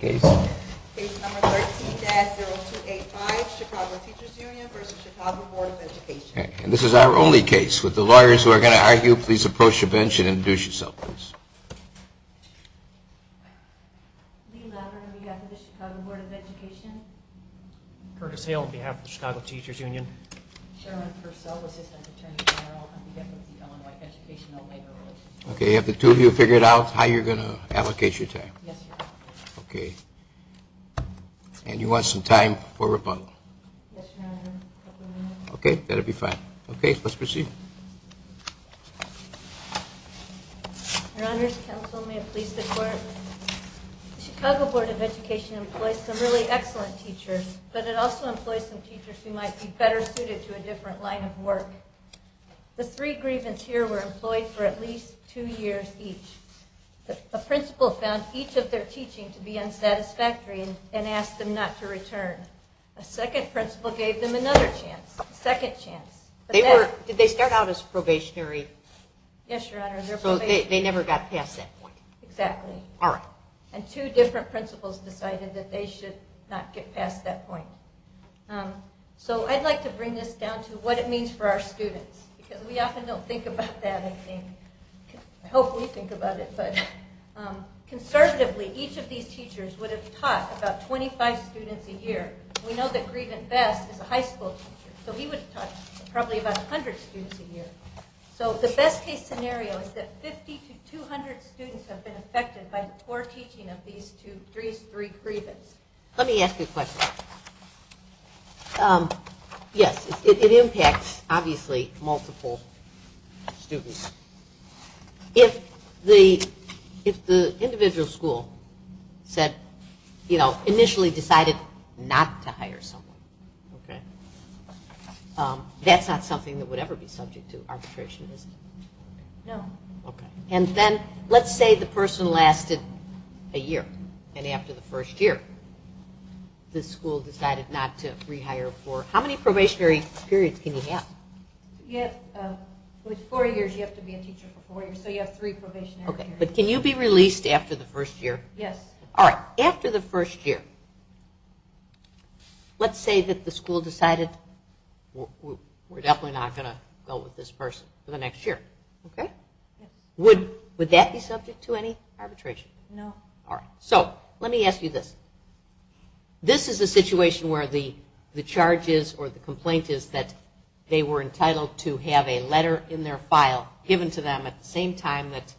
Case number 13-0285, Chicago Teachers Union v. Chicago Board of Education. And this is our only case. With the lawyers who are going to argue, please approach the bench and introduce yourselves, please. Lee Lever, on behalf of the Chicago Board of Education. Curtis Hale, on behalf of the Chicago Teachers Union. Sherilyn Purcell, Assistant Attorney General, on behalf of the Illinois Educational Labor Relations. Okay, have the two of you figured out how you're going to allocate your time? Yes, Your Honor. Okay. And you want some time for rebuttal? Yes, Your Honor. Okay, that'll be fine. Okay, let's proceed. Your Honors, counsel may it please the Court. The Chicago Board of Education employs some really excellent teachers, but it also employs some teachers who might be better suited to a different line of work. The three grievance here were employed for at least two years each. A principal found each of their teaching to be unsatisfactory and asked them not to return. A second principal gave them another chance, a second chance. Did they start out as probationary? Yes, Your Honor. So they never got past that point? Exactly. All right. And two different principals decided that they should not get past that point. So I'd like to bring this down to what it means for our students, because we often don't think about that anything. I hope we think about it. But conservatively, each of these teachers would have taught about 25 students a year. We know that Grievance Best is a high school teacher, so he would have taught probably about 100 students a year. So the best case scenario is that 50 to 200 students have been affected by the poor teaching of these three grievance. Let me ask you a question. Yes, it impacts, obviously, multiple students. If the individual school initially decided not to hire someone, that's not something that would ever be subject to arbitration, is it? No. Okay. And then let's say the person lasted a year, and after the first year, the school decided not to rehire for how many probationary periods can you have? With four years, you have to be a teacher for four years, so you have three probationary periods. But can you be released after the first year? Yes. All right. After the first year, let's say that the school decided, we're definitely not going to go with this person for the next year, okay? Would that be subject to any arbitration? No. All right. So let me ask you this. This is a situation where the charge is or the complaint is that they were entitled to have a letter in their file given to them at the same time that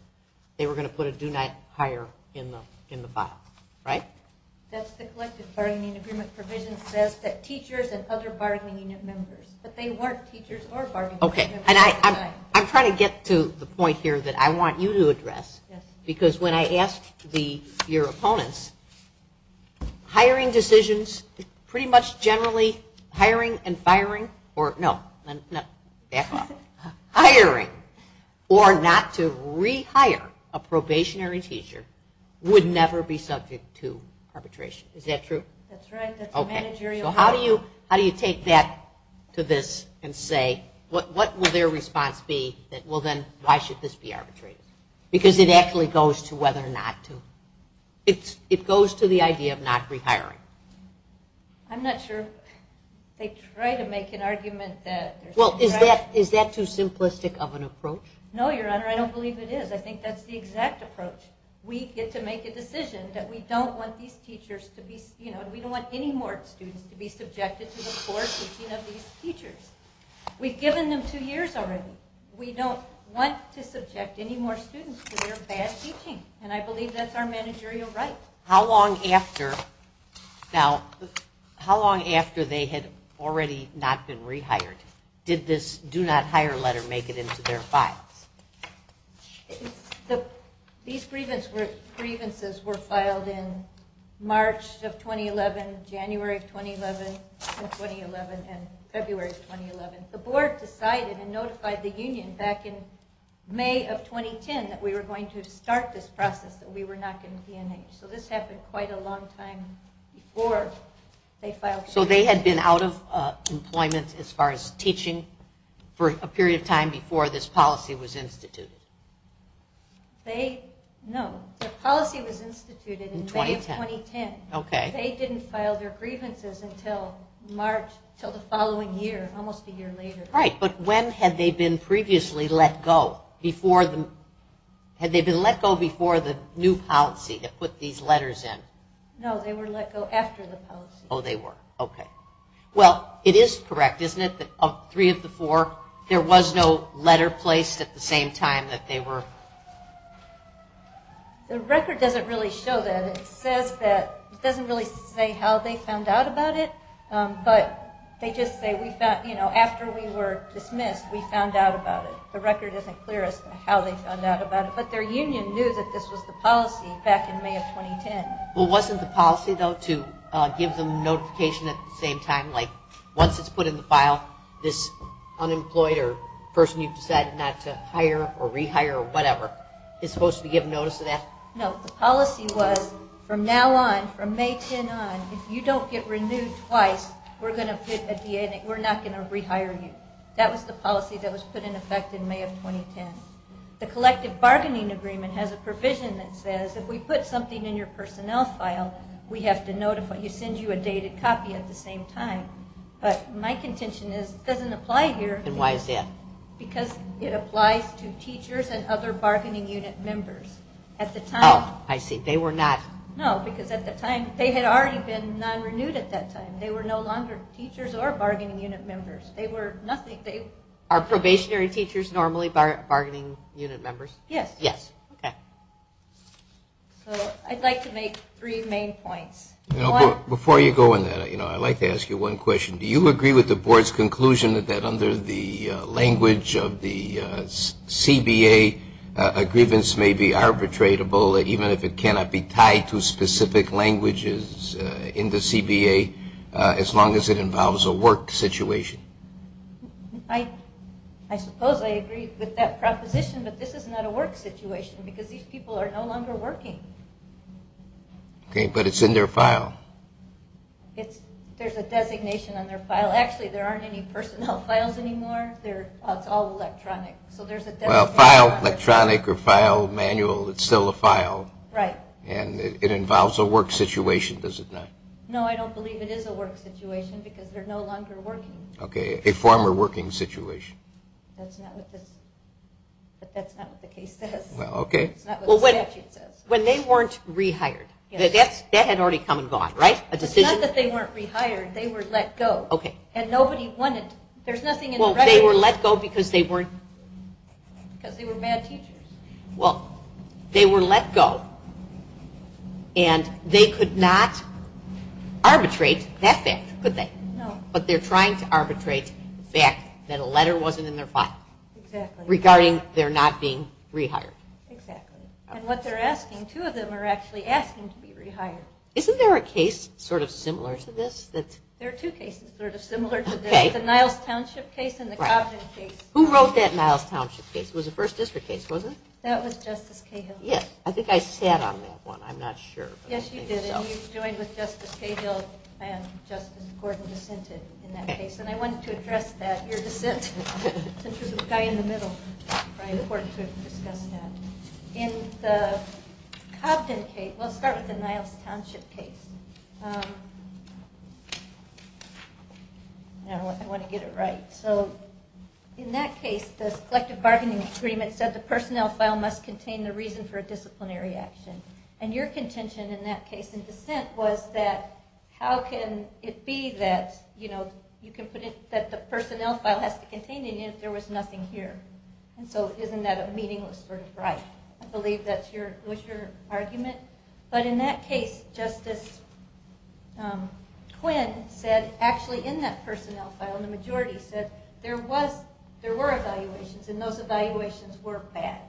they were going to put a do not hire in the file, right? That's the collective bargaining agreement provision says that teachers and other bargaining unit members, but they weren't teachers or bargaining unit members at the time. Okay. And I'm trying to get to the point here that I want you to address, because when I asked your opponents, hiring decisions, pretty much generally, hiring and firing, or no, back off. Hiring or not to rehire a probationary teacher would never be subject to arbitration. Is that true? That's right. Okay. So how do you take that to this and say what will their response be that, well, then, why should this be arbitrated? Because it actually goes to whether or not to. It goes to the idea of not rehiring. I'm not sure. They try to make an argument that there's some rational. Well, is that too simplistic of an approach? No, Your Honor. I don't believe it is. I think that's the exact approach. We get to make a decision that we don't want these teachers to be, you know, we don't want any more students to be subjected to the poor teaching of these teachers. We've given them two years already. We don't want to subject any more students to their bad teaching. And I believe that's our managerial right. How long after they had already not been rehired did this do not hire letter make it into their files? These grievances were filed in March of 2011, January of 2011, and February of 2011. The board decided and notified the union back in May of 2010 that we were going to start this process, that we were not going to be in it. So this happened quite a long time before they filed. So they had been out of employment as far as teaching for a period of time before this policy was instituted? They, no, the policy was instituted in May of 2010. Okay. They didn't file their grievances until March, until the following year, almost a year later. Right. But when had they been previously let go? Before the, had they been let go before the new policy that put these letters in? No, they were let go after the policy. Oh, they were. Okay. Well, it is correct, isn't it, that of three of the four there was no letter placed at the same time that they were? The record doesn't really show that. It says that, it doesn't really say how they found out about it, but they just say we found, you know, after we were dismissed, we found out about it. The record isn't clear as to how they found out about it. But their union knew that this was the policy back in May of 2010. Well, wasn't the policy, though, to give them notification at the same time, like once it's put in the file, this unemployed or person you've decided not to hire or rehire or whatever is supposed to be given notice of that? No, the policy was from now on, from May 10 on, if you don't get renewed twice, we're not going to rehire you. That was the policy that was put in effect in May of 2010. The collective bargaining agreement has a provision that says if we put something in your personnel file, we have to notify, you send you a dated copy at the same time. But my contention is it doesn't apply here. And why is that? Because it applies to teachers and other bargaining unit members. At the time. Oh, I see. They were not. No, because at the time, they had already been non-renewed at that time. They were no longer teachers or bargaining unit members. They were nothing. Are probationary teachers normally bargaining unit members? Yes. Yes. Okay. So I'd like to make three main points. Before you go on that, I'd like to ask you one question. Do you agree with the board's conclusion that under the language of the CBA, a grievance may be arbitratable even if it cannot be tied to specific languages in the CBA as long as it involves a work situation? I suppose I agree with that proposition, but this is not a work situation because these people are no longer working. Okay. But it's in their file. There's a designation on their file. Actually, there aren't any personnel files anymore. It's all electronic. Well, file electronic or file manual, it's still a file. Right. And it involves a work situation, does it not? No, I don't believe it is a work situation because they're no longer working. Okay. A former working situation. That's not what the case says. Okay. It's not what the statute says. When they weren't rehired, that had already come and gone, right? A decision? It's not that they weren't rehired. They were let go. Okay. And nobody wanted to. There's nothing in the record. Well, they were let go because they weren't. Because they were bad teachers. Well, they were let go, and they could not arbitrate that fact, could they? No. But they're trying to arbitrate the fact that a letter wasn't in their file. Exactly. Regarding their not being rehired. Exactly. And what they're asking, two of them are actually asking to be rehired. Isn't there a case sort of similar to this? There are two cases sort of similar to this. Okay. The Niles Township case and the Cobden case. Who wrote that Niles Township case? It was a First District case, wasn't it? That was Justice Cahill. Yes. I think I sat on that one. I'm not sure. Yes, you did. And you joined with Justice Cahill and Justice Gordon dissented in that case. And I wanted to address that, your dissent, since you're the guy in the middle. It's probably important to discuss that. In the Cobden case, we'll start with the Niles Township case. I want to get it right. So in that case, the collective bargaining agreement said the personnel file must contain the reason for a disciplinary action. And your contention in that case in dissent was that how can it be that, you know, there was nothing here. And so isn't that a meaningless sort of right? I believe that was your argument. But in that case, Justice Quinn said actually in that personnel file, the majority said there were evaluations and those evaluations were bad.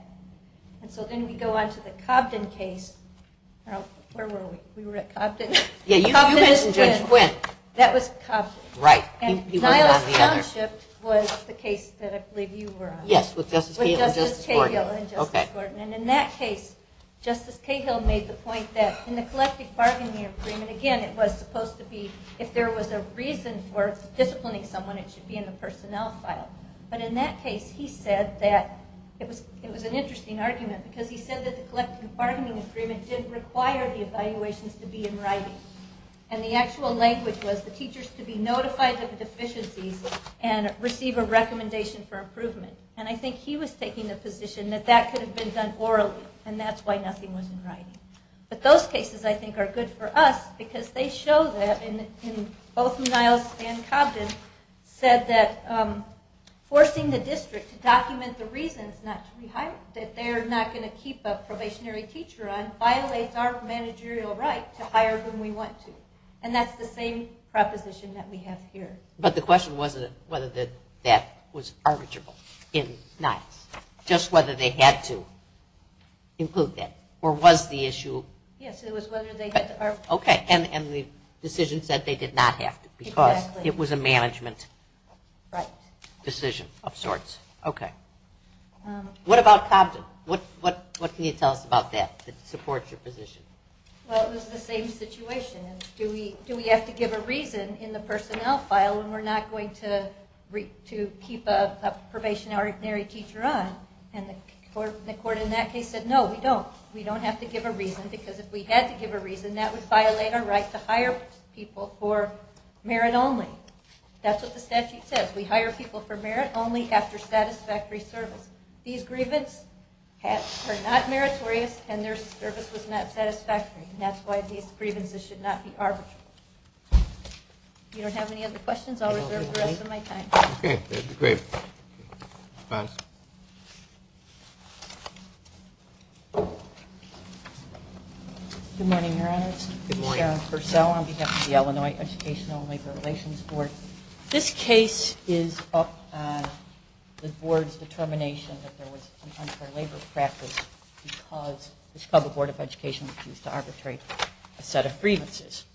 And so then we go on to the Cobden case. Where were we? We were at Cobden. Yeah, you mentioned Judge Quinn. That was Cobden. Right. He wasn't on the other. Cobden Township was the case that I believe you were on. Yes, with Justice Cahill and Justice Gordon. With Justice Cahill and Justice Gordon. Okay. And in that case, Justice Cahill made the point that in the collective bargaining agreement, again, it was supposed to be if there was a reason for disciplining someone, it should be in the personnel file. But in that case, he said that it was an interesting argument because he said that the collective bargaining agreement didn't require the evaluations to be in writing. And the actual language was the teachers to be notified of deficiencies and receive a recommendation for improvement. And I think he was taking the position that that could have been done orally and that's why nothing was in writing. But those cases, I think, are good for us because they show that in both Niles and Cobden, said that forcing the district to document the reasons not to rehire, that they're not going to keep a probationary teacher on, violates our managerial right to hire whom we want to. And that's the same proposition that we have here. But the question wasn't whether that was arbitrable in Niles. Just whether they had to include that. Or was the issue? Yes, it was whether they had to arbitrate. Okay. And the decision said they did not have to because it was a management decision of sorts. Right. Okay. What about Cobden? What can you tell us about that that supports your position? Well, it was the same situation. Do we have to give a reason in the personnel file when we're not going to keep a probationary teacher on? And the court in that case said, no, we don't. We don't have to give a reason because if we had to give a reason, that would violate our right to hire people for merit only. That's what the statute says. We hire people for merit only after satisfactory service. These grievances are not meritorious, and their service was not satisfactory. And that's why these grievances should not be arbitrable. If you don't have any other questions, I'll reserve the rest of my time. Okay. That's great. Good morning, Your Honors. Good morning. Sharon Purcell on behalf of the Illinois Educational and Labor Relations Board. This case is up on the board's determination that there was unfair labor practice because the Chicago Board of Education refused to arbitrate a set of grievances.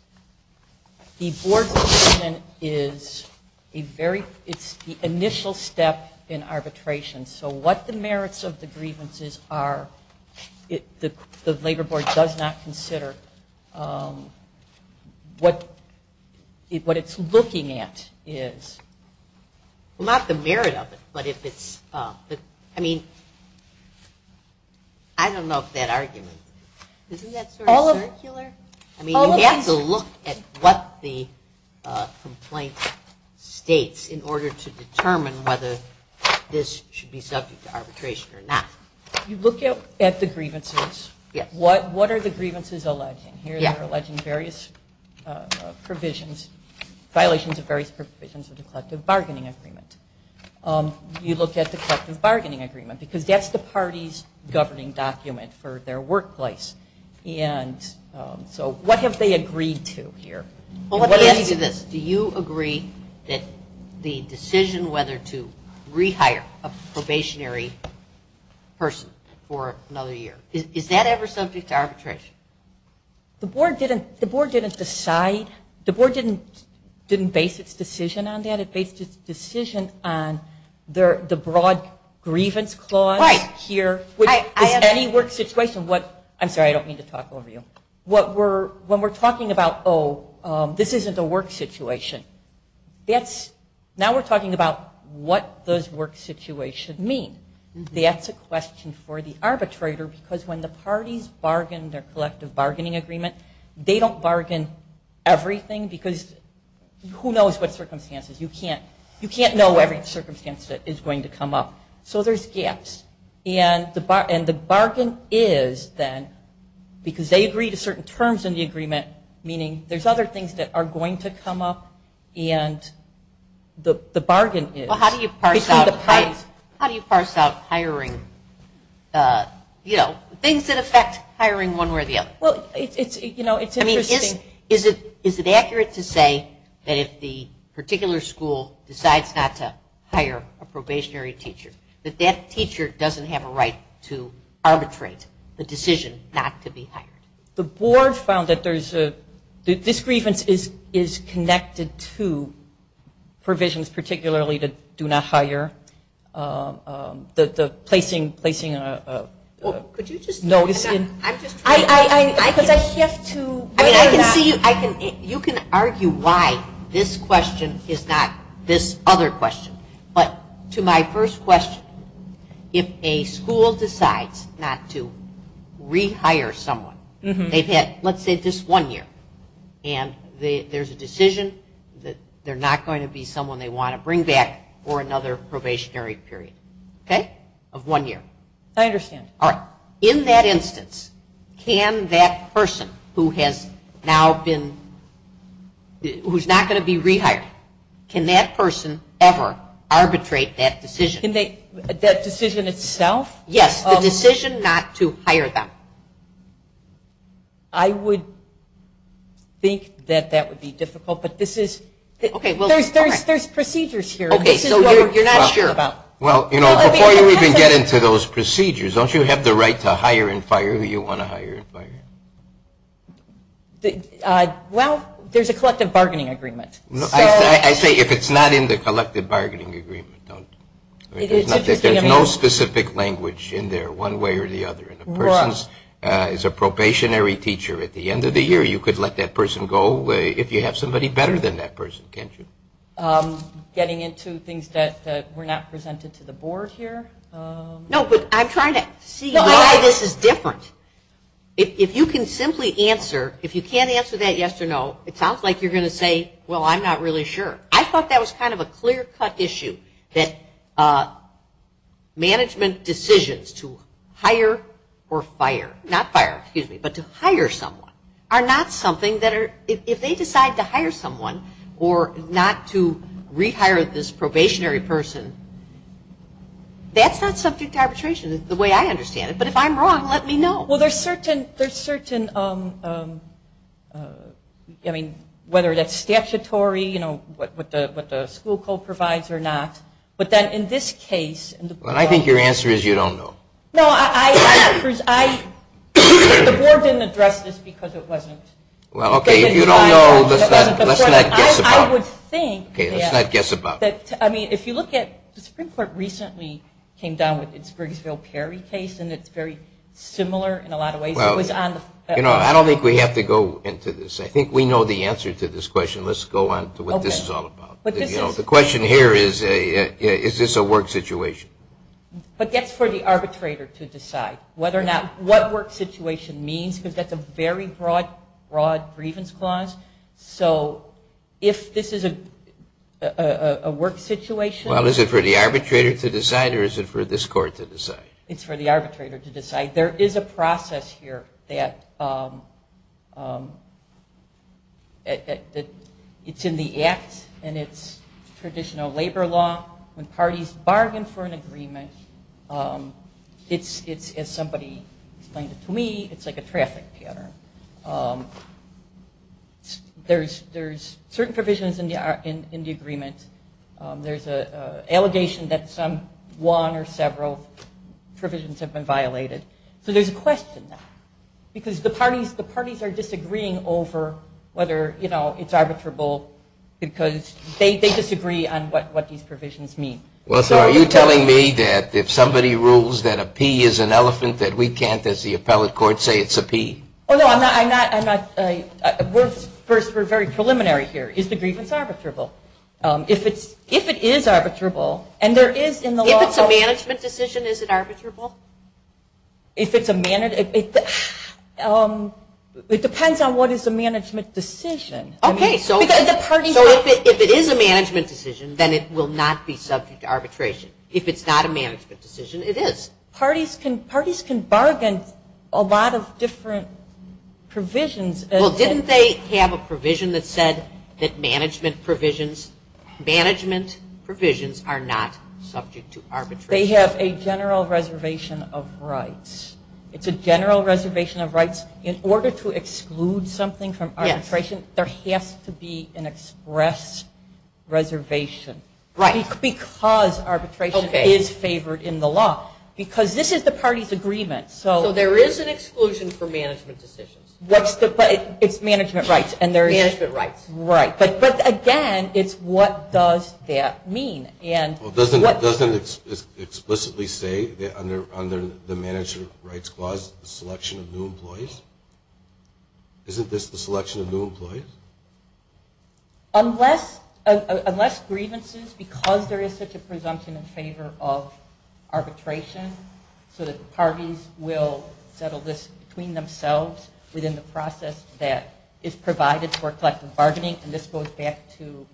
The board's decision is a very – it's the initial step in arbitration. So what the merits of the grievances are, the labor board does not consider what it's looking at is. Well, not the merit of it, but if it's – I mean, I don't know if that argument – isn't that sort of circular? I mean, you have to look at what the complaint states in order to determine whether this should be subject to arbitration or not. You look at the grievances. Yes. What are the grievances alleging here? They're alleging various provisions, violations of various provisions of the collective bargaining agreement. You look at the collective bargaining agreement because that's the party's governing document for their workplace. And so what have they agreed to here? Well, let me ask you this. Do you agree that the decision whether to rehire a probationary person for another year, is that ever subject to arbitration? The board didn't decide. The board didn't base its decision on that. It based its decision on the broad grievance clause here, which is any work situation. I'm sorry, I don't mean to talk over you. When we're talking about, oh, this isn't a work situation, now we're talking about what does work situation mean? That's a question for the arbitrator because when the parties bargain their collective bargaining agreement, they don't bargain everything because who knows what circumstances? You can't know every circumstance that is going to come up. So there's gaps. And the bargain is then because they agree to certain terms in the agreement, meaning there's other things that are going to come up, and the bargain is. Well, how do you parse out hiring, you know, things that affect hiring one way or the other? Well, it's interesting. I mean, is it accurate to say that if the particular school decides not to hire, it doesn't have a right to arbitrate the decision not to be hired? The board found that there's a, this grievance is connected to provisions particularly to do not hire, the placing. Well, could you just. No. Because I shift to. I mean, I can see you. You can argue why this question is not this other question. But to my first question, if a school decides not to rehire someone, they've had, let's say, just one year, and there's a decision that they're not going to be someone they want to bring back for another probationary period, okay, of one year. I understand. All right. In that instance, can that person who has now been, who's not going to be rehired, can that person ever arbitrate that decision? That decision itself? Yes, the decision not to hire them. I would think that that would be difficult, but this is. There's procedures here. Okay, so you're not sure. Well, before you even get into those procedures, don't you have the right to hire and fire who you want to hire and fire? Well, there's a collective bargaining agreement. I say if it's not in the collective bargaining agreement, don't. There's no specific language in there one way or the other. If a person is a probationary teacher at the end of the year, you could let that person go if you have somebody better than that person, can't you? Getting into things that were not presented to the board here. No, but I'm trying to see why this is different. If you can simply answer, if you can't answer that yes or no, it sounds like you're going to say, well, I'm not really sure. I thought that was kind of a clear-cut issue, that management decisions to hire or fire, not fire, excuse me, but to hire someone are not something that are, if they decide to hire someone or not to rehire this probationary person, that's not subject to arbitration the way I understand it. But if I'm wrong, let me know. Well, there's certain, I mean, whether that's statutory, you know, what the school code provides or not. But then in this case. Well, I think your answer is you don't know. No, I, the board didn't address this because it wasn't. Well, okay, if you don't know, let's not guess about it. I would think. Okay, let's not guess about it. I mean, if you look at, the Supreme Court recently came down with its Grigsville Perry case, and it's very similar in a lot of ways. Well, you know, I don't think we have to go into this. I think we know the answer to this question. Let's go on to what this is all about. The question here is, is this a work situation? But that's for the arbitrator to decide whether or not, what work situation means because that's a very broad grievance clause. So if this is a work situation. Well, is it for the arbitrator to decide or is it for this court to decide? It's for the arbitrator to decide. There is a process here that it's in the act and it's traditional labor law. When parties bargain for an agreement, it's, as somebody explained it to me, it's like a traffic pattern. There's certain provisions in the agreement. There's an allegation that some one or several provisions have been violated. So there's a question there because the parties are disagreeing over whether, you know, it's arbitrable because they disagree on what these provisions mean. Well, so are you telling me that if somebody rules that a P is an elephant, that we can't, as the appellate court, say it's a P? Oh, no, I'm not. First, we're very preliminary here. Is the grievance arbitrable? If it is arbitrable and there is in the law. If it's a management decision, is it arbitrable? It depends on what is a management decision. Okay, so if it is a management decision, then it will not be subject to arbitration. If it's not a management decision, it is. Parties can bargain a lot of different provisions. Well, didn't they have a provision that said that management provisions are not subject to arbitration? They have a general reservation of rights. It's a general reservation of rights. In order to exclude something from arbitration, there has to be an express reservation. Right. Not because arbitration is favored in the law. Because this is the party's agreement. So there is an exclusion for management decisions. It's management rights. Management rights. Right. But, again, it's what does that mean. Doesn't it explicitly say under the Management Rights Clause the selection of new employees? Isn't this the selection of new employees? Unless grievances, because there is such a presumption in favor of arbitration, so that the parties will settle this between themselves within the process that is provided for collective bargaining, and this goes back to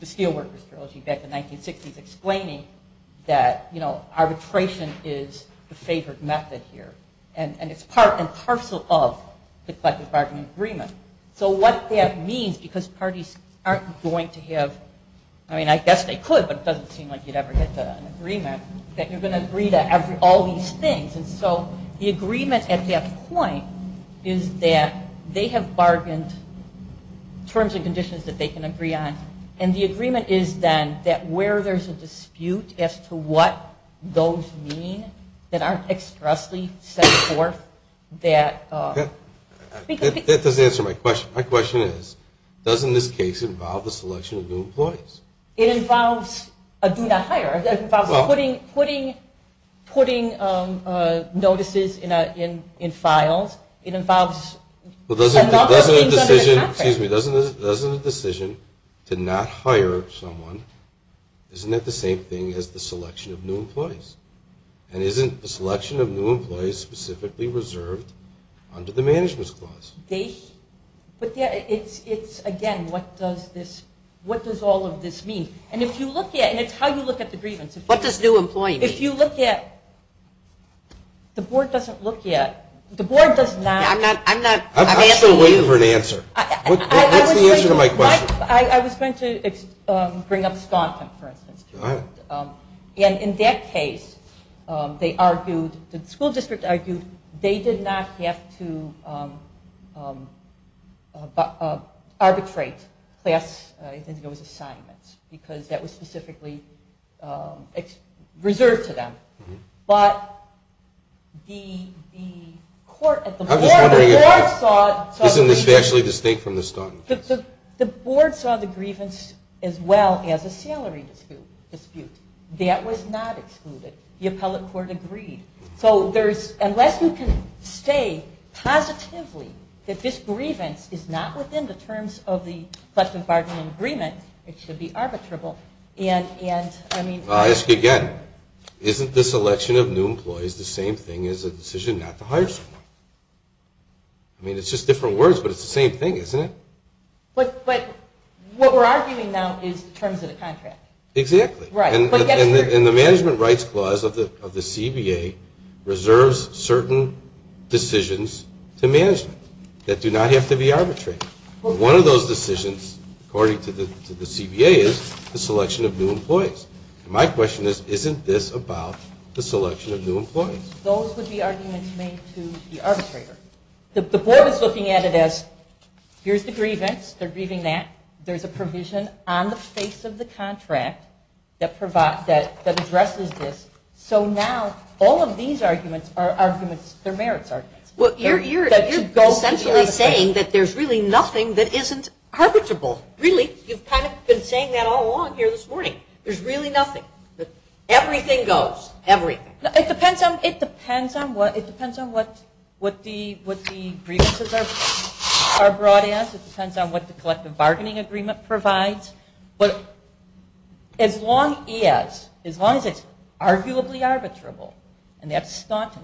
the Steelworkers Trilogy back in the 1960s explaining that arbitration is the favored method here. And it's part and parcel of the collective bargaining agreement. So what that means, because parties aren't going to have, I mean, I guess they could, but it doesn't seem like you'd ever get to an agreement, that you're going to agree to all these things. And so the agreement at that point is that they have bargained terms and conditions that they can agree on. And the agreement is then that where there's a dispute as to what those mean that aren't expressly set forth that. That doesn't answer my question. My question is, doesn't this case involve the selection of new employees? It involves a do not hire. It involves putting notices in files. Well, doesn't a decision to not hire someone, isn't it the same thing as the selection of new employees? And isn't the selection of new employees specifically reserved under the management's clause? They, but it's, again, what does this, what does all of this mean? And if you look at, and it's how you look at the grievance. What does new employee mean? If you look at, the board doesn't look at, the board does not. I'm not, I'm asking you. I'm still waiting for an answer. What's the answer to my question? I was going to bring up Staunton, for instance. All right. And in that case, they argued, the school district argued they did not have to arbitrate class assignments because that was specifically reserved to them. But the court, the board saw, the board saw the grievance as well as a salary dispute. That was not excluded. The appellate court agreed. So there's, unless you can stay positively that this grievance is not within the terms of the collective bargaining agreement, it should be arbitrable, and I mean. I'll ask you again. Isn't this election of new employees the same thing as a decision not to hire someone? I mean, it's just different words, but it's the same thing, isn't it? But what we're arguing now is the terms of the contract. Exactly. Right. And the management rights clause of the CBA reserves certain decisions to management that do not have to be arbitrated. One of those decisions, according to the CBA, is the selection of new employees. And my question is, isn't this about the selection of new employees? Those would be arguments made to the arbitrator. The board is looking at it as, here's the grievance. They're grieving that. There's a provision on the face of the contract that addresses this. So now all of these arguments are arguments, they're merits arguments. You're essentially saying that there's really nothing that isn't arbitrable. Really. You've kind of been saying that all along here this morning. There's really nothing. Everything goes. Everything. It depends on what the grievances are brought as. It depends on what the collective bargaining agreement provides. But as long as it's arguably arbitrable, and that's staunch.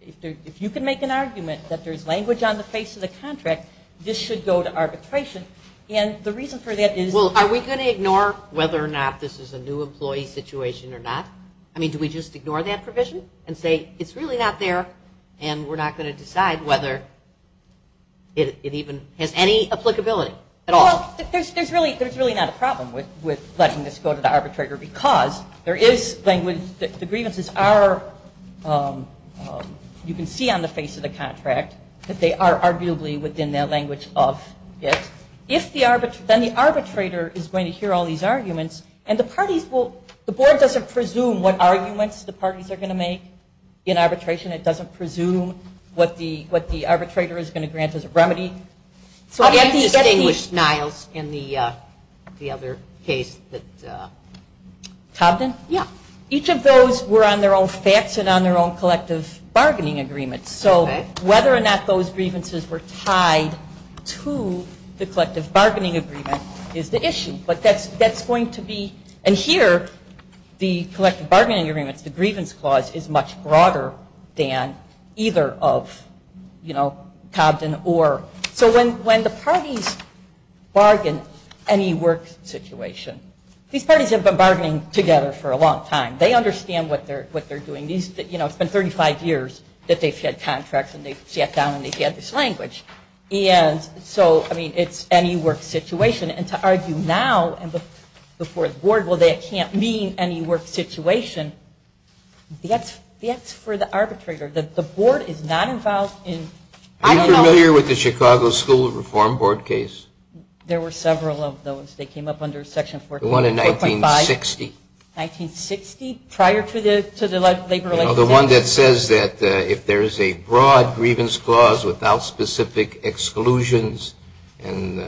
If you can make an argument that there's language on the face of the contract, this should go to arbitration. And the reason for that is. Well, are we going to ignore whether or not this is a new employee situation or not? I mean, do we just ignore that provision and say, it's really not there, and we're not going to decide whether it even has any applicability at all? Well, there's really not a problem with letting this go to the arbitrator, because there is language that the grievances are, you can see on the face of the contract, that they are arguably within their language of it. Then the arbitrator is going to hear all these arguments, and the parties will the board doesn't presume what arguments the parties are going to make in arbitration. It doesn't presume what the arbitrator is going to grant as a remedy. How do you distinguish Niles in the other case? Cobden? Yeah. Each of those were on their own facts and on their own collective bargaining agreements. So whether or not those grievances were tied to the collective bargaining agreement is the issue. But that's going to be. And here, the collective bargaining agreements, the grievance clause, is much broader than either of Cobden or. So when the parties bargain any work situation, these parties have been bargaining together for a long time. They understand what they're doing. It's been 35 years that they've had contracts, and they've sat down, and they've had this language. And so, I mean, it's any work situation. And to argue now before the board, well, that can't mean any work situation. That's for the arbitrator. The board is not involved in. I don't know. Are you familiar with the Chicago School Reform Board case? There were several of those. They came up under Section 14. The one in 1960. 1960? Prior to the Labor Relations Act. Well, the one that says that if there is a broad grievance clause without specific exclusions, and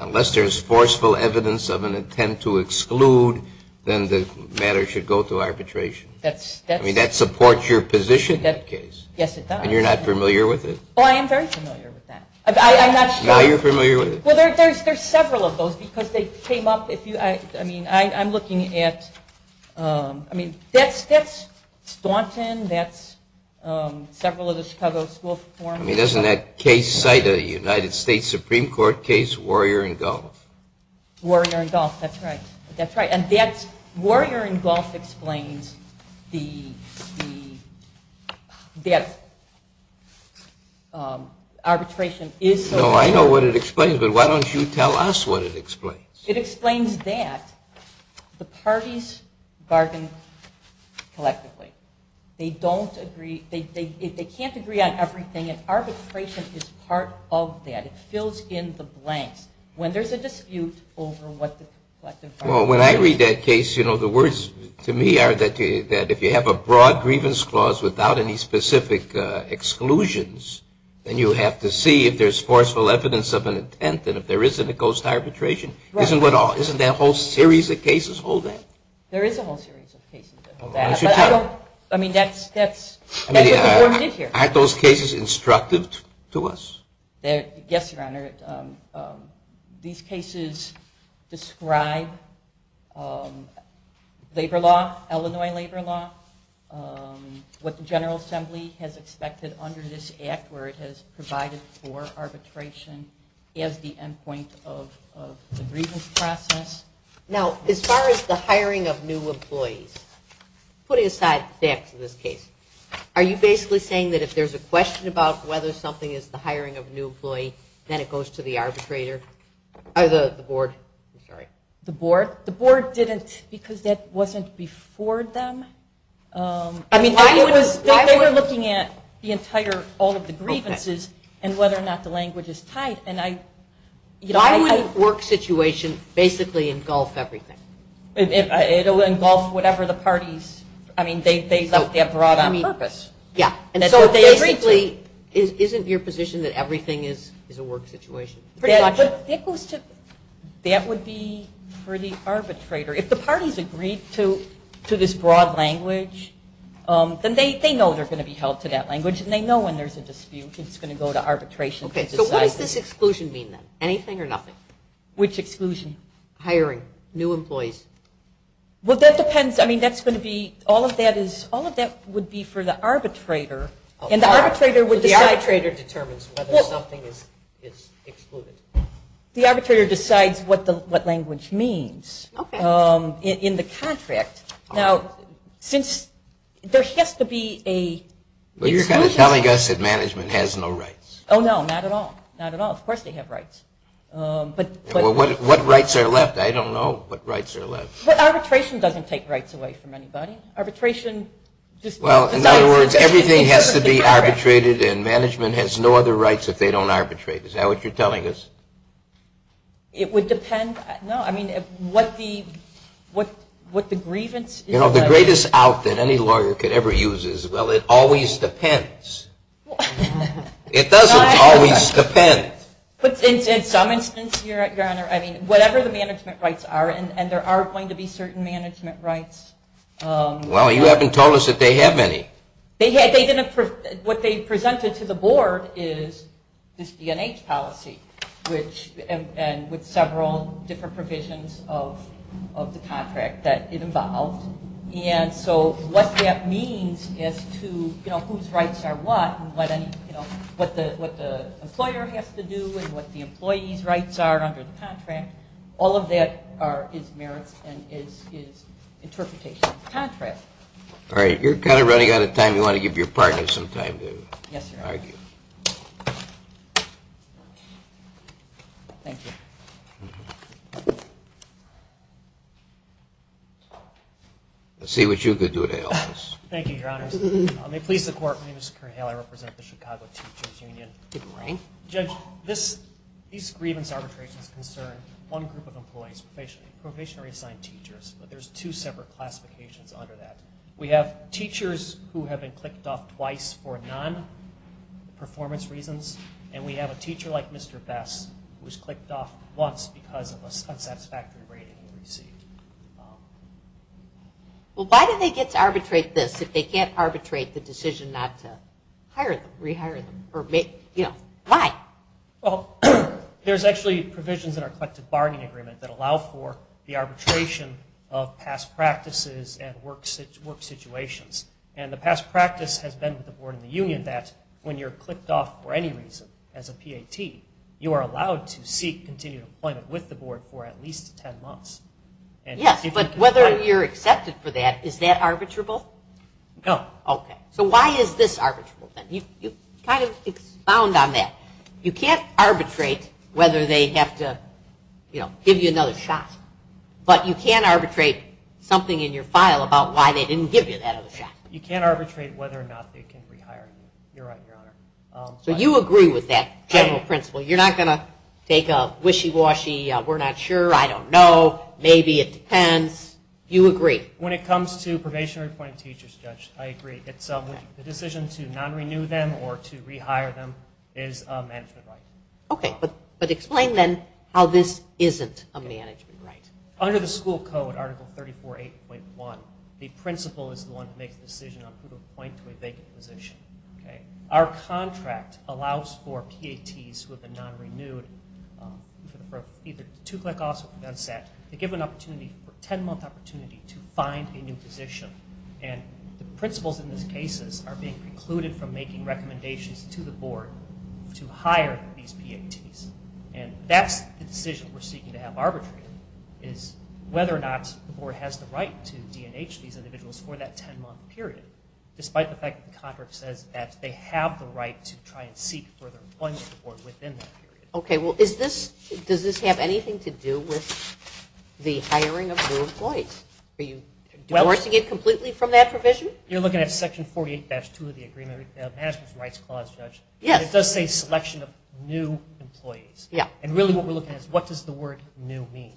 unless there's forceful evidence of an intent to exclude, then the matter should go to arbitration. I mean, that supports your position in the case. Yes, it does. And you're not familiar with it? Oh, I am very familiar with that. I'm not sure. Now you're familiar with it? Well, there's several of those, because they came up. I'm looking at, I mean, that's Staunton. That's several of the Chicago School Reform. I mean, doesn't that case cite a United States Supreme Court case, Warrior and Gulf? Warrior and Gulf. That's right. That's right. And Warrior and Gulf explains that arbitration is so important. No, I know what it explains, but why don't you tell us what it explains? It explains that the parties bargain collectively. They don't agree, they can't agree on everything, and arbitration is part of that. It fills in the blanks. When there's a dispute over what the collective bargaining agreement is. Well, when I read that case, you know, the words to me are that if you have a broad grievance clause without any specific exclusions, then you have to see if there's forceful evidence of an intent, and if there isn't, it goes to arbitration. Isn't that a whole series of cases holding? There is a whole series of cases that hold that. Why don't you tell us? I mean, that's what the court did here. Aren't those cases instructive to us? Yes, Your Honor. These cases describe labor law, Illinois labor law, what the General Assembly has expected under this act where it has provided for arbitration as the end point of the grievance process. Now, as far as the hiring of new employees, putting aside facts of this case, are you basically saying that if there's a question about whether something is the hiring of a new employee, then it goes to the arbitrator, or the board? The board? The board didn't, because that wasn't before them. They were looking at the entire, all of the grievances, and whether or not the language is tight. Why would a work situation basically engulf everything? It will engulf whatever the parties, I mean, they left that broad on purpose. Yeah, and so basically, isn't your position that everything is a work situation? That would be for the arbitrator. If the parties agreed to this broad language, then they know they're going to be held to that language, and they know when there's a dispute, it's going to go to arbitration. Okay, so what does this exclusion mean, then? Anything or nothing? Which exclusion? Hiring new employees. Well, that depends. I mean, that's going to be, all of that would be for the arbitrator, and the arbitrator would decide. The arbitrator determines whether something is excluded. The arbitrator decides what language means in the contract. Now, since there has to be a... Well, you're kind of telling us that management has no rights. Oh, no, not at all. Not at all. Of course they have rights. Well, what rights are left? I don't know what rights are left. But arbitration doesn't take rights away from anybody. Arbitration just... Well, in other words, everything has to be arbitrated, and management has no other rights if they don't arbitrate. Is that what you're telling us? It would depend. No, I mean, what the grievance is... You know, the greatest out that any lawyer could ever use is, well, it always depends. It doesn't always depend. But in some instances, Your Honor, I mean, whatever the management rights are, and there are going to be certain management rights. Well, you haven't told us that they have any. What they presented to the board is this D&H policy, and with several different provisions of the contract that it involved. And so what that means as to, you know, whose rights are what, and what the employer has to do, and what the employee's rights are under the contract, all of that is merits and is interpretation of the contract. All right. You're kind of running out of time. You want to give your partner some time to argue. Yes, Your Honor. Thank you. Let's see what you could do to help us. Thank you, Your Honors. May it please the Court, my name is Kurt Haley. I represent the Chicago Teachers Union. Good morning. Judge, these grievance arbitrations concern one group of employees, professionally assigned teachers, but there's two separate classifications under that. We have teachers who have been clicked off twice for non-performance reasons, and we have a teacher like Mr. Best who was clicked off once because of an unsatisfactory rating he received. Well, why do they get to arbitrate this if they can't arbitrate the decision not to hire them, why? Well, there's actually provisions in our collective bargaining agreement that allow for the arbitration of past practices and work situations, and the past practice has been with the board and the union that when you're clicked off for any reason as a PAT, you are allowed to seek continued employment with the board for at least ten months. Yes, but whether you're accepted for that, is that arbitrable? No. Okay. So why is this arbitrable then? You kind of expound on that. You can't arbitrate whether they have to give you another shot, but you can arbitrate something in your file about why they didn't give you that other shot. You can't arbitrate whether or not they can rehire you. You're right, Your Honor. So you agree with that general principle? You're not going to take a wishy-washy, we're not sure, I don't know, maybe it depends? You agree? When it comes to probationary appointed teachers, Judge, I agree. The decision to non-renew them or to rehire them is a management right. Okay. But explain then how this isn't a management right. Under the school code, Article 34.8.1, the principal is the one who makes the decision on who to appoint to a vacant position. Our contract allows for PATs who have been non-renewed, either two-click offs or been set, to give an opportunity for a ten-month opportunity to find a new position. And the principals in these cases are being precluded from making recommendations to the board to hire these PATs. And that's the decision we're seeking to have arbitrated, is whether or not the board has the right to D&H these individuals for that ten-month period, despite the fact that the contract says that they have the right to try and seek further employment within that period. Okay. Well, does this have anything to do with the hiring of new employees? Are you divorcing it completely from that provision? You're looking at Section 48-2 of the Management Rights Clause, Judge. Yes. It does say selection of new employees. Yeah. And really what we're looking at is what does the word new mean?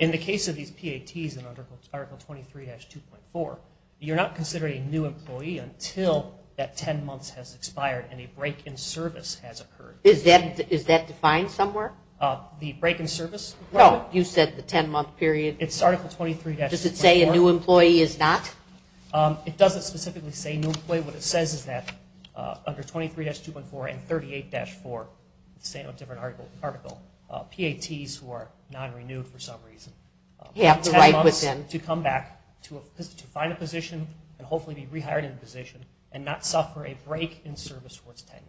In the case of these PATs under Article 23-2.4, you're not considering a new employee until that ten months has expired and a break in service has occurred. Is that defined somewhere? The break in service? No. You said the ten-month period. It's Article 23-2.4. Does it say a new employee is not? It doesn't specifically say new employee. What it says is that under 23-2.4 and 38-4, it's saying on a different article, PATs who are non-renewed for some reason have ten months to come back to find a position and hopefully be rehired in a position and not suffer a break in service for its tenure.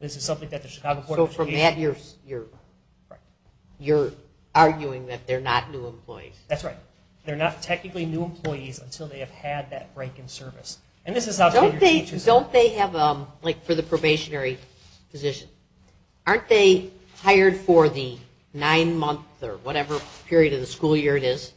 This is something that the Chicago Court of Education... So from that, you're arguing that they're not new employees. That's right. They're not technically new employees until they have had that break in service. Don't they have, like for the probationary position, aren't they hired for the nine-month or whatever period of the school year it is?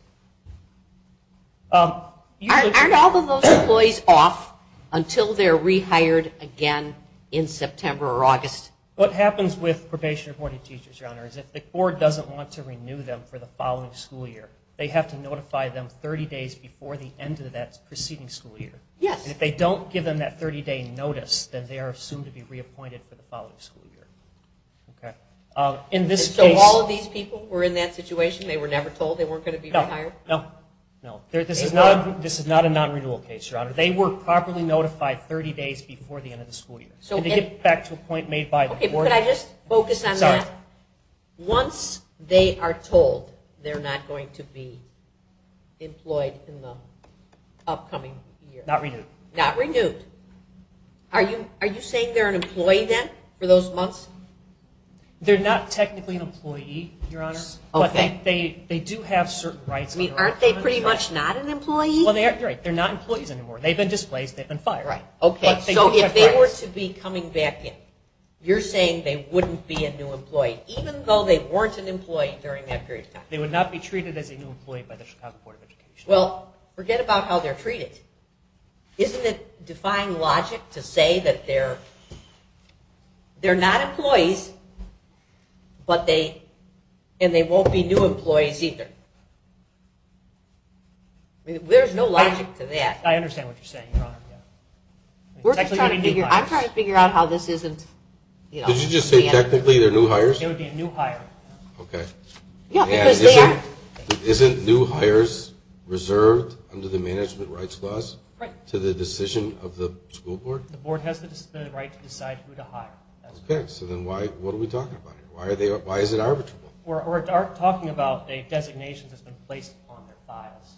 Aren't all of those employees off until they're rehired again in September or August? What happens with probation-appointed teachers, Your Honor, is if the court doesn't want to renew them for the following school year, they have to notify them 30 days before the end of that preceding school year. Yes. If they don't give them that 30-day notice, then they are assumed to be reappointed for the following school year. So all of these people were in that situation? They were never told they weren't going to be rehired? No. This is not a non-renewal case, Your Honor. They were properly notified 30 days before the end of the school year. To get back to a point made by the court... Okay, but could I just focus on that? Sorry. Once they are told they're not going to be employed in the upcoming year... Not renewed. Not renewed. Are you saying they're an employee then for those months? They're not technically an employee, Your Honor. Okay. They do have certain rights... Aren't they pretty much not an employee? You're right. They're not employees anymore. They've been displaced. They've been fired. Okay. So if they were to be coming back in, you're saying they wouldn't be a new employee, even though they weren't an employee during that period of time? They would not be treated as a new employee by the Chicago Board of Education. Well, forget about how they're treated. Isn't it defying logic to say that they're not employees and they won't be new employees either? There's no logic to that. I understand what you're saying, Your Honor. I'm trying to figure out how this isn't... Did you just say technically they're new hires? They would be a new hire. Okay. Isn't new hires reserved under the management rights clause to the decision of the school board? The board has the right to decide who to hire. Okay. So then what are we talking about here? Why is it arbitrable? We're talking about a designation that's been placed on their files,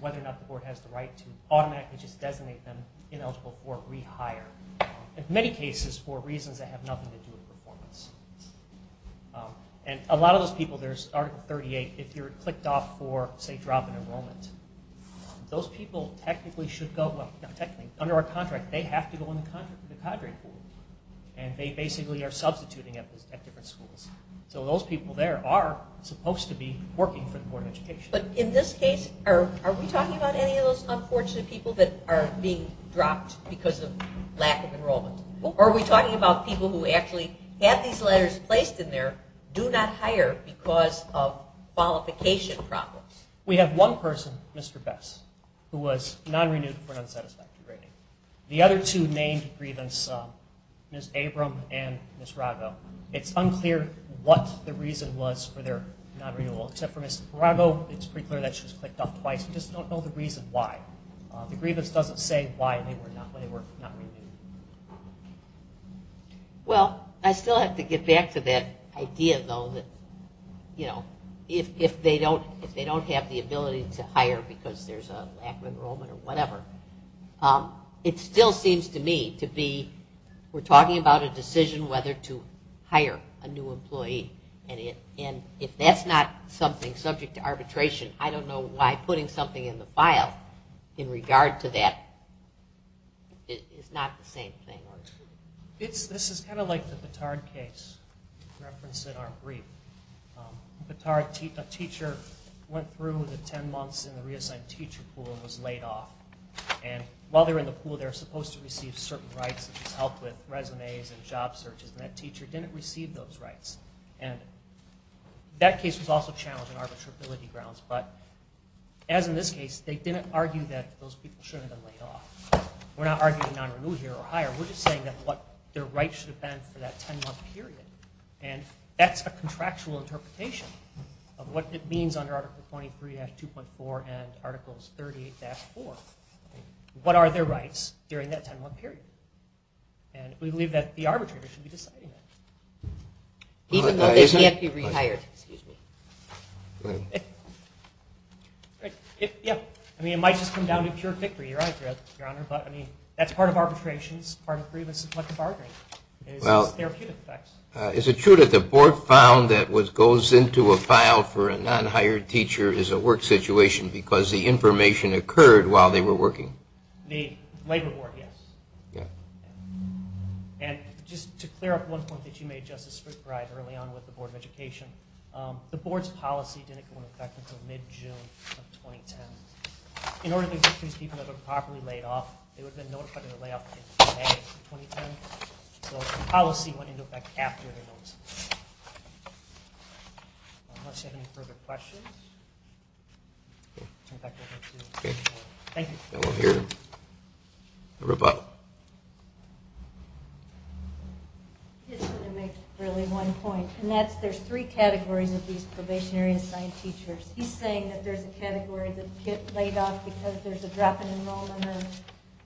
whether or not the board has the right to automatically just designate them ineligible for rehire, in many cases for reasons that have nothing to do with performance. And a lot of those people, there's Article 38, if you're clicked off for, say, drop in enrollment, those people technically should go under our contract. They have to go under the contract for the cadre pool, and they basically are substituting at different schools. So those people there are supposed to be working for the Board of Education. But in this case, are we talking about any of those unfortunate people that are being dropped because of lack of enrollment? Are we talking about people who actually have these letters placed in there, do not hire because of qualification problems? We have one person, Mr. Bess, who was non-renewed for an unsatisfactory rating. The other two named grievance, Ms. Abram and Ms. Rago. It's unclear what the reason was for their non-renewal. Except for Ms. Rago, it's pretty clear that she was clicked off twice. We just don't know the reason why. The grievance doesn't say why they were not renewed. Well, I still have to get back to that idea, though, that if they don't have the ability to hire because there's a lack of enrollment or whatever, it still seems to me to be we're talking about a decision whether to hire a new employee. And if that's not something subject to arbitration, I don't know why putting something in the file in regard to that is not the same thing. This is kind of like the Petard case referenced in our brief. A teacher went through the ten months in the reassigned teacher pool and was laid off. And while they were in the pool, they were supposed to receive certain rights, such as help with resumes and job searches, and that teacher didn't receive those rights. And that case was also challenged on arbitrability grounds. But as in this case, they didn't argue that those people shouldn't have been laid off. We're not arguing non-renewal here or hire. We're just saying that what their rights should have been for that ten-month period. And that's a contractual interpretation of what it means under Article 23-2.4 and Articles 38-4. What are their rights during that ten-month period? And we believe that the arbitrator should be deciding that. Even though they can't be re-hired. I mean, it might just come down to pure victory. You're right, Your Honor. But, I mean, that's part of arbitration. Well, is it true that the board found that what goes into a file for a non-hired teacher is a work situation because the information occurred while they were working? The labor board, yes. Yeah. And just to clear up one point that you made, Justice Fruitt, early on with the Board of Education, the board's policy didn't go into effect until mid-June of 2010. In order to convince people that they were properly laid off, they would have been notified of the layoff in August of 2010. So the policy went into effect after the notice. Unless you have any further questions. Thank you. And we'll hear the rebuttal. I just want to make really one point, and that's there's three categories of these probationary assigned teachers. He's saying that there's a category that gets laid off because there's a drop in enrollment.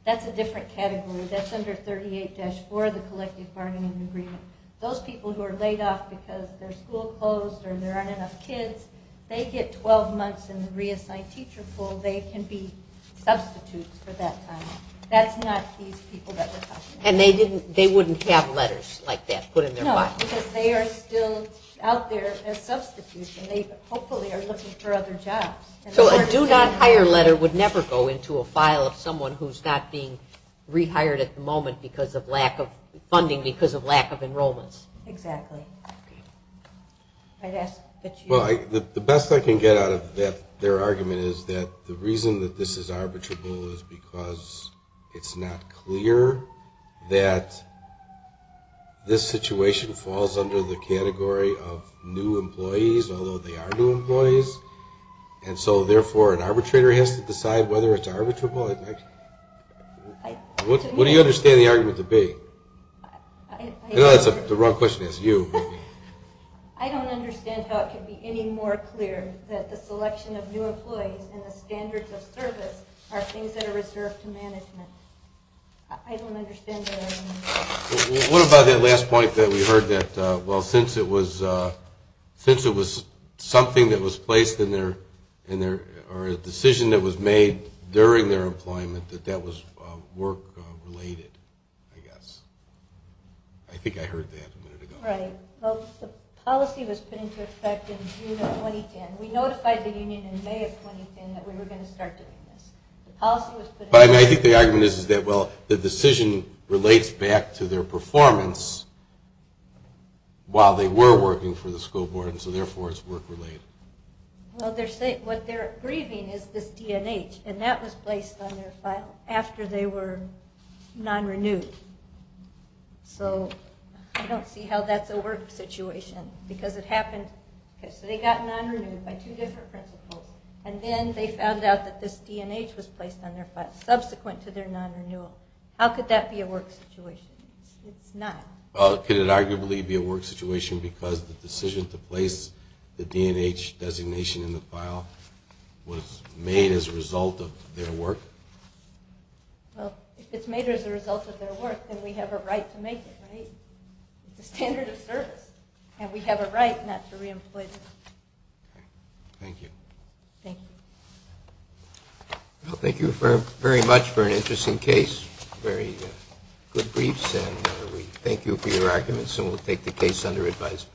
That's a different category. That's under 38-4, the collective bargaining agreement. Those people who are laid off because their school closed or there aren't enough kids, they get 12 months in the reassigned teacher pool. They can be substitutes for that time. That's not these people that we're talking about. And they wouldn't have letters like that put in their file? No, because they are still out there as substitutes, and they hopefully are looking for other jobs. So a do not hire letter would never go into a file of someone who's not being rehired at the moment because of lack of funding, because of lack of enrollments? Exactly. The best I can get out of their argument is that the reason that this is arbitrable is because it's not clear that this situation falls under the category of new employees, although they are new employees. And so, therefore, an arbitrator has to decide whether it's arbitrable. What do you understand the argument to be? I know that's the wrong question to ask you. I don't understand how it can be any more clear that the selection of new employees and the standards of service are things that are reserved to management. I don't understand their argument. What about that last point that we heard that, well, since it was something that was placed in their or a decision that was made during their employment that that was work-related, I guess. I think I heard that a minute ago. Right. Well, the policy was put into effect in June of 2010. We notified the union in May of 2010 that we were going to start doing this. The policy was put into effect. But I think the argument is that, well, the decision relates back to their performance while they were working for the school board. And so, therefore, it's work-related. Well, what they're grieving is this D&H. And that was placed on their file after they were non-renewed. So I don't see how that's a work situation because it happened. So they got non-renewed by two different principals. And then they found out that this D&H was placed on their file subsequent to their non-renewal. How could that be a work situation? It's not. Well, could it arguably be a work situation because the decision to place the D&H designation in the file was made as a result of their work? Well, if it's made as a result of their work, then we have a right to make it, right? It's a standard of service. And we have a right not to re-employ them. Thank you. Thank you. Well, thank you very much for an interesting case. Very good briefs. And we thank you for your arguments. And we'll take the case under advisory. Court is adjourned. Thank you.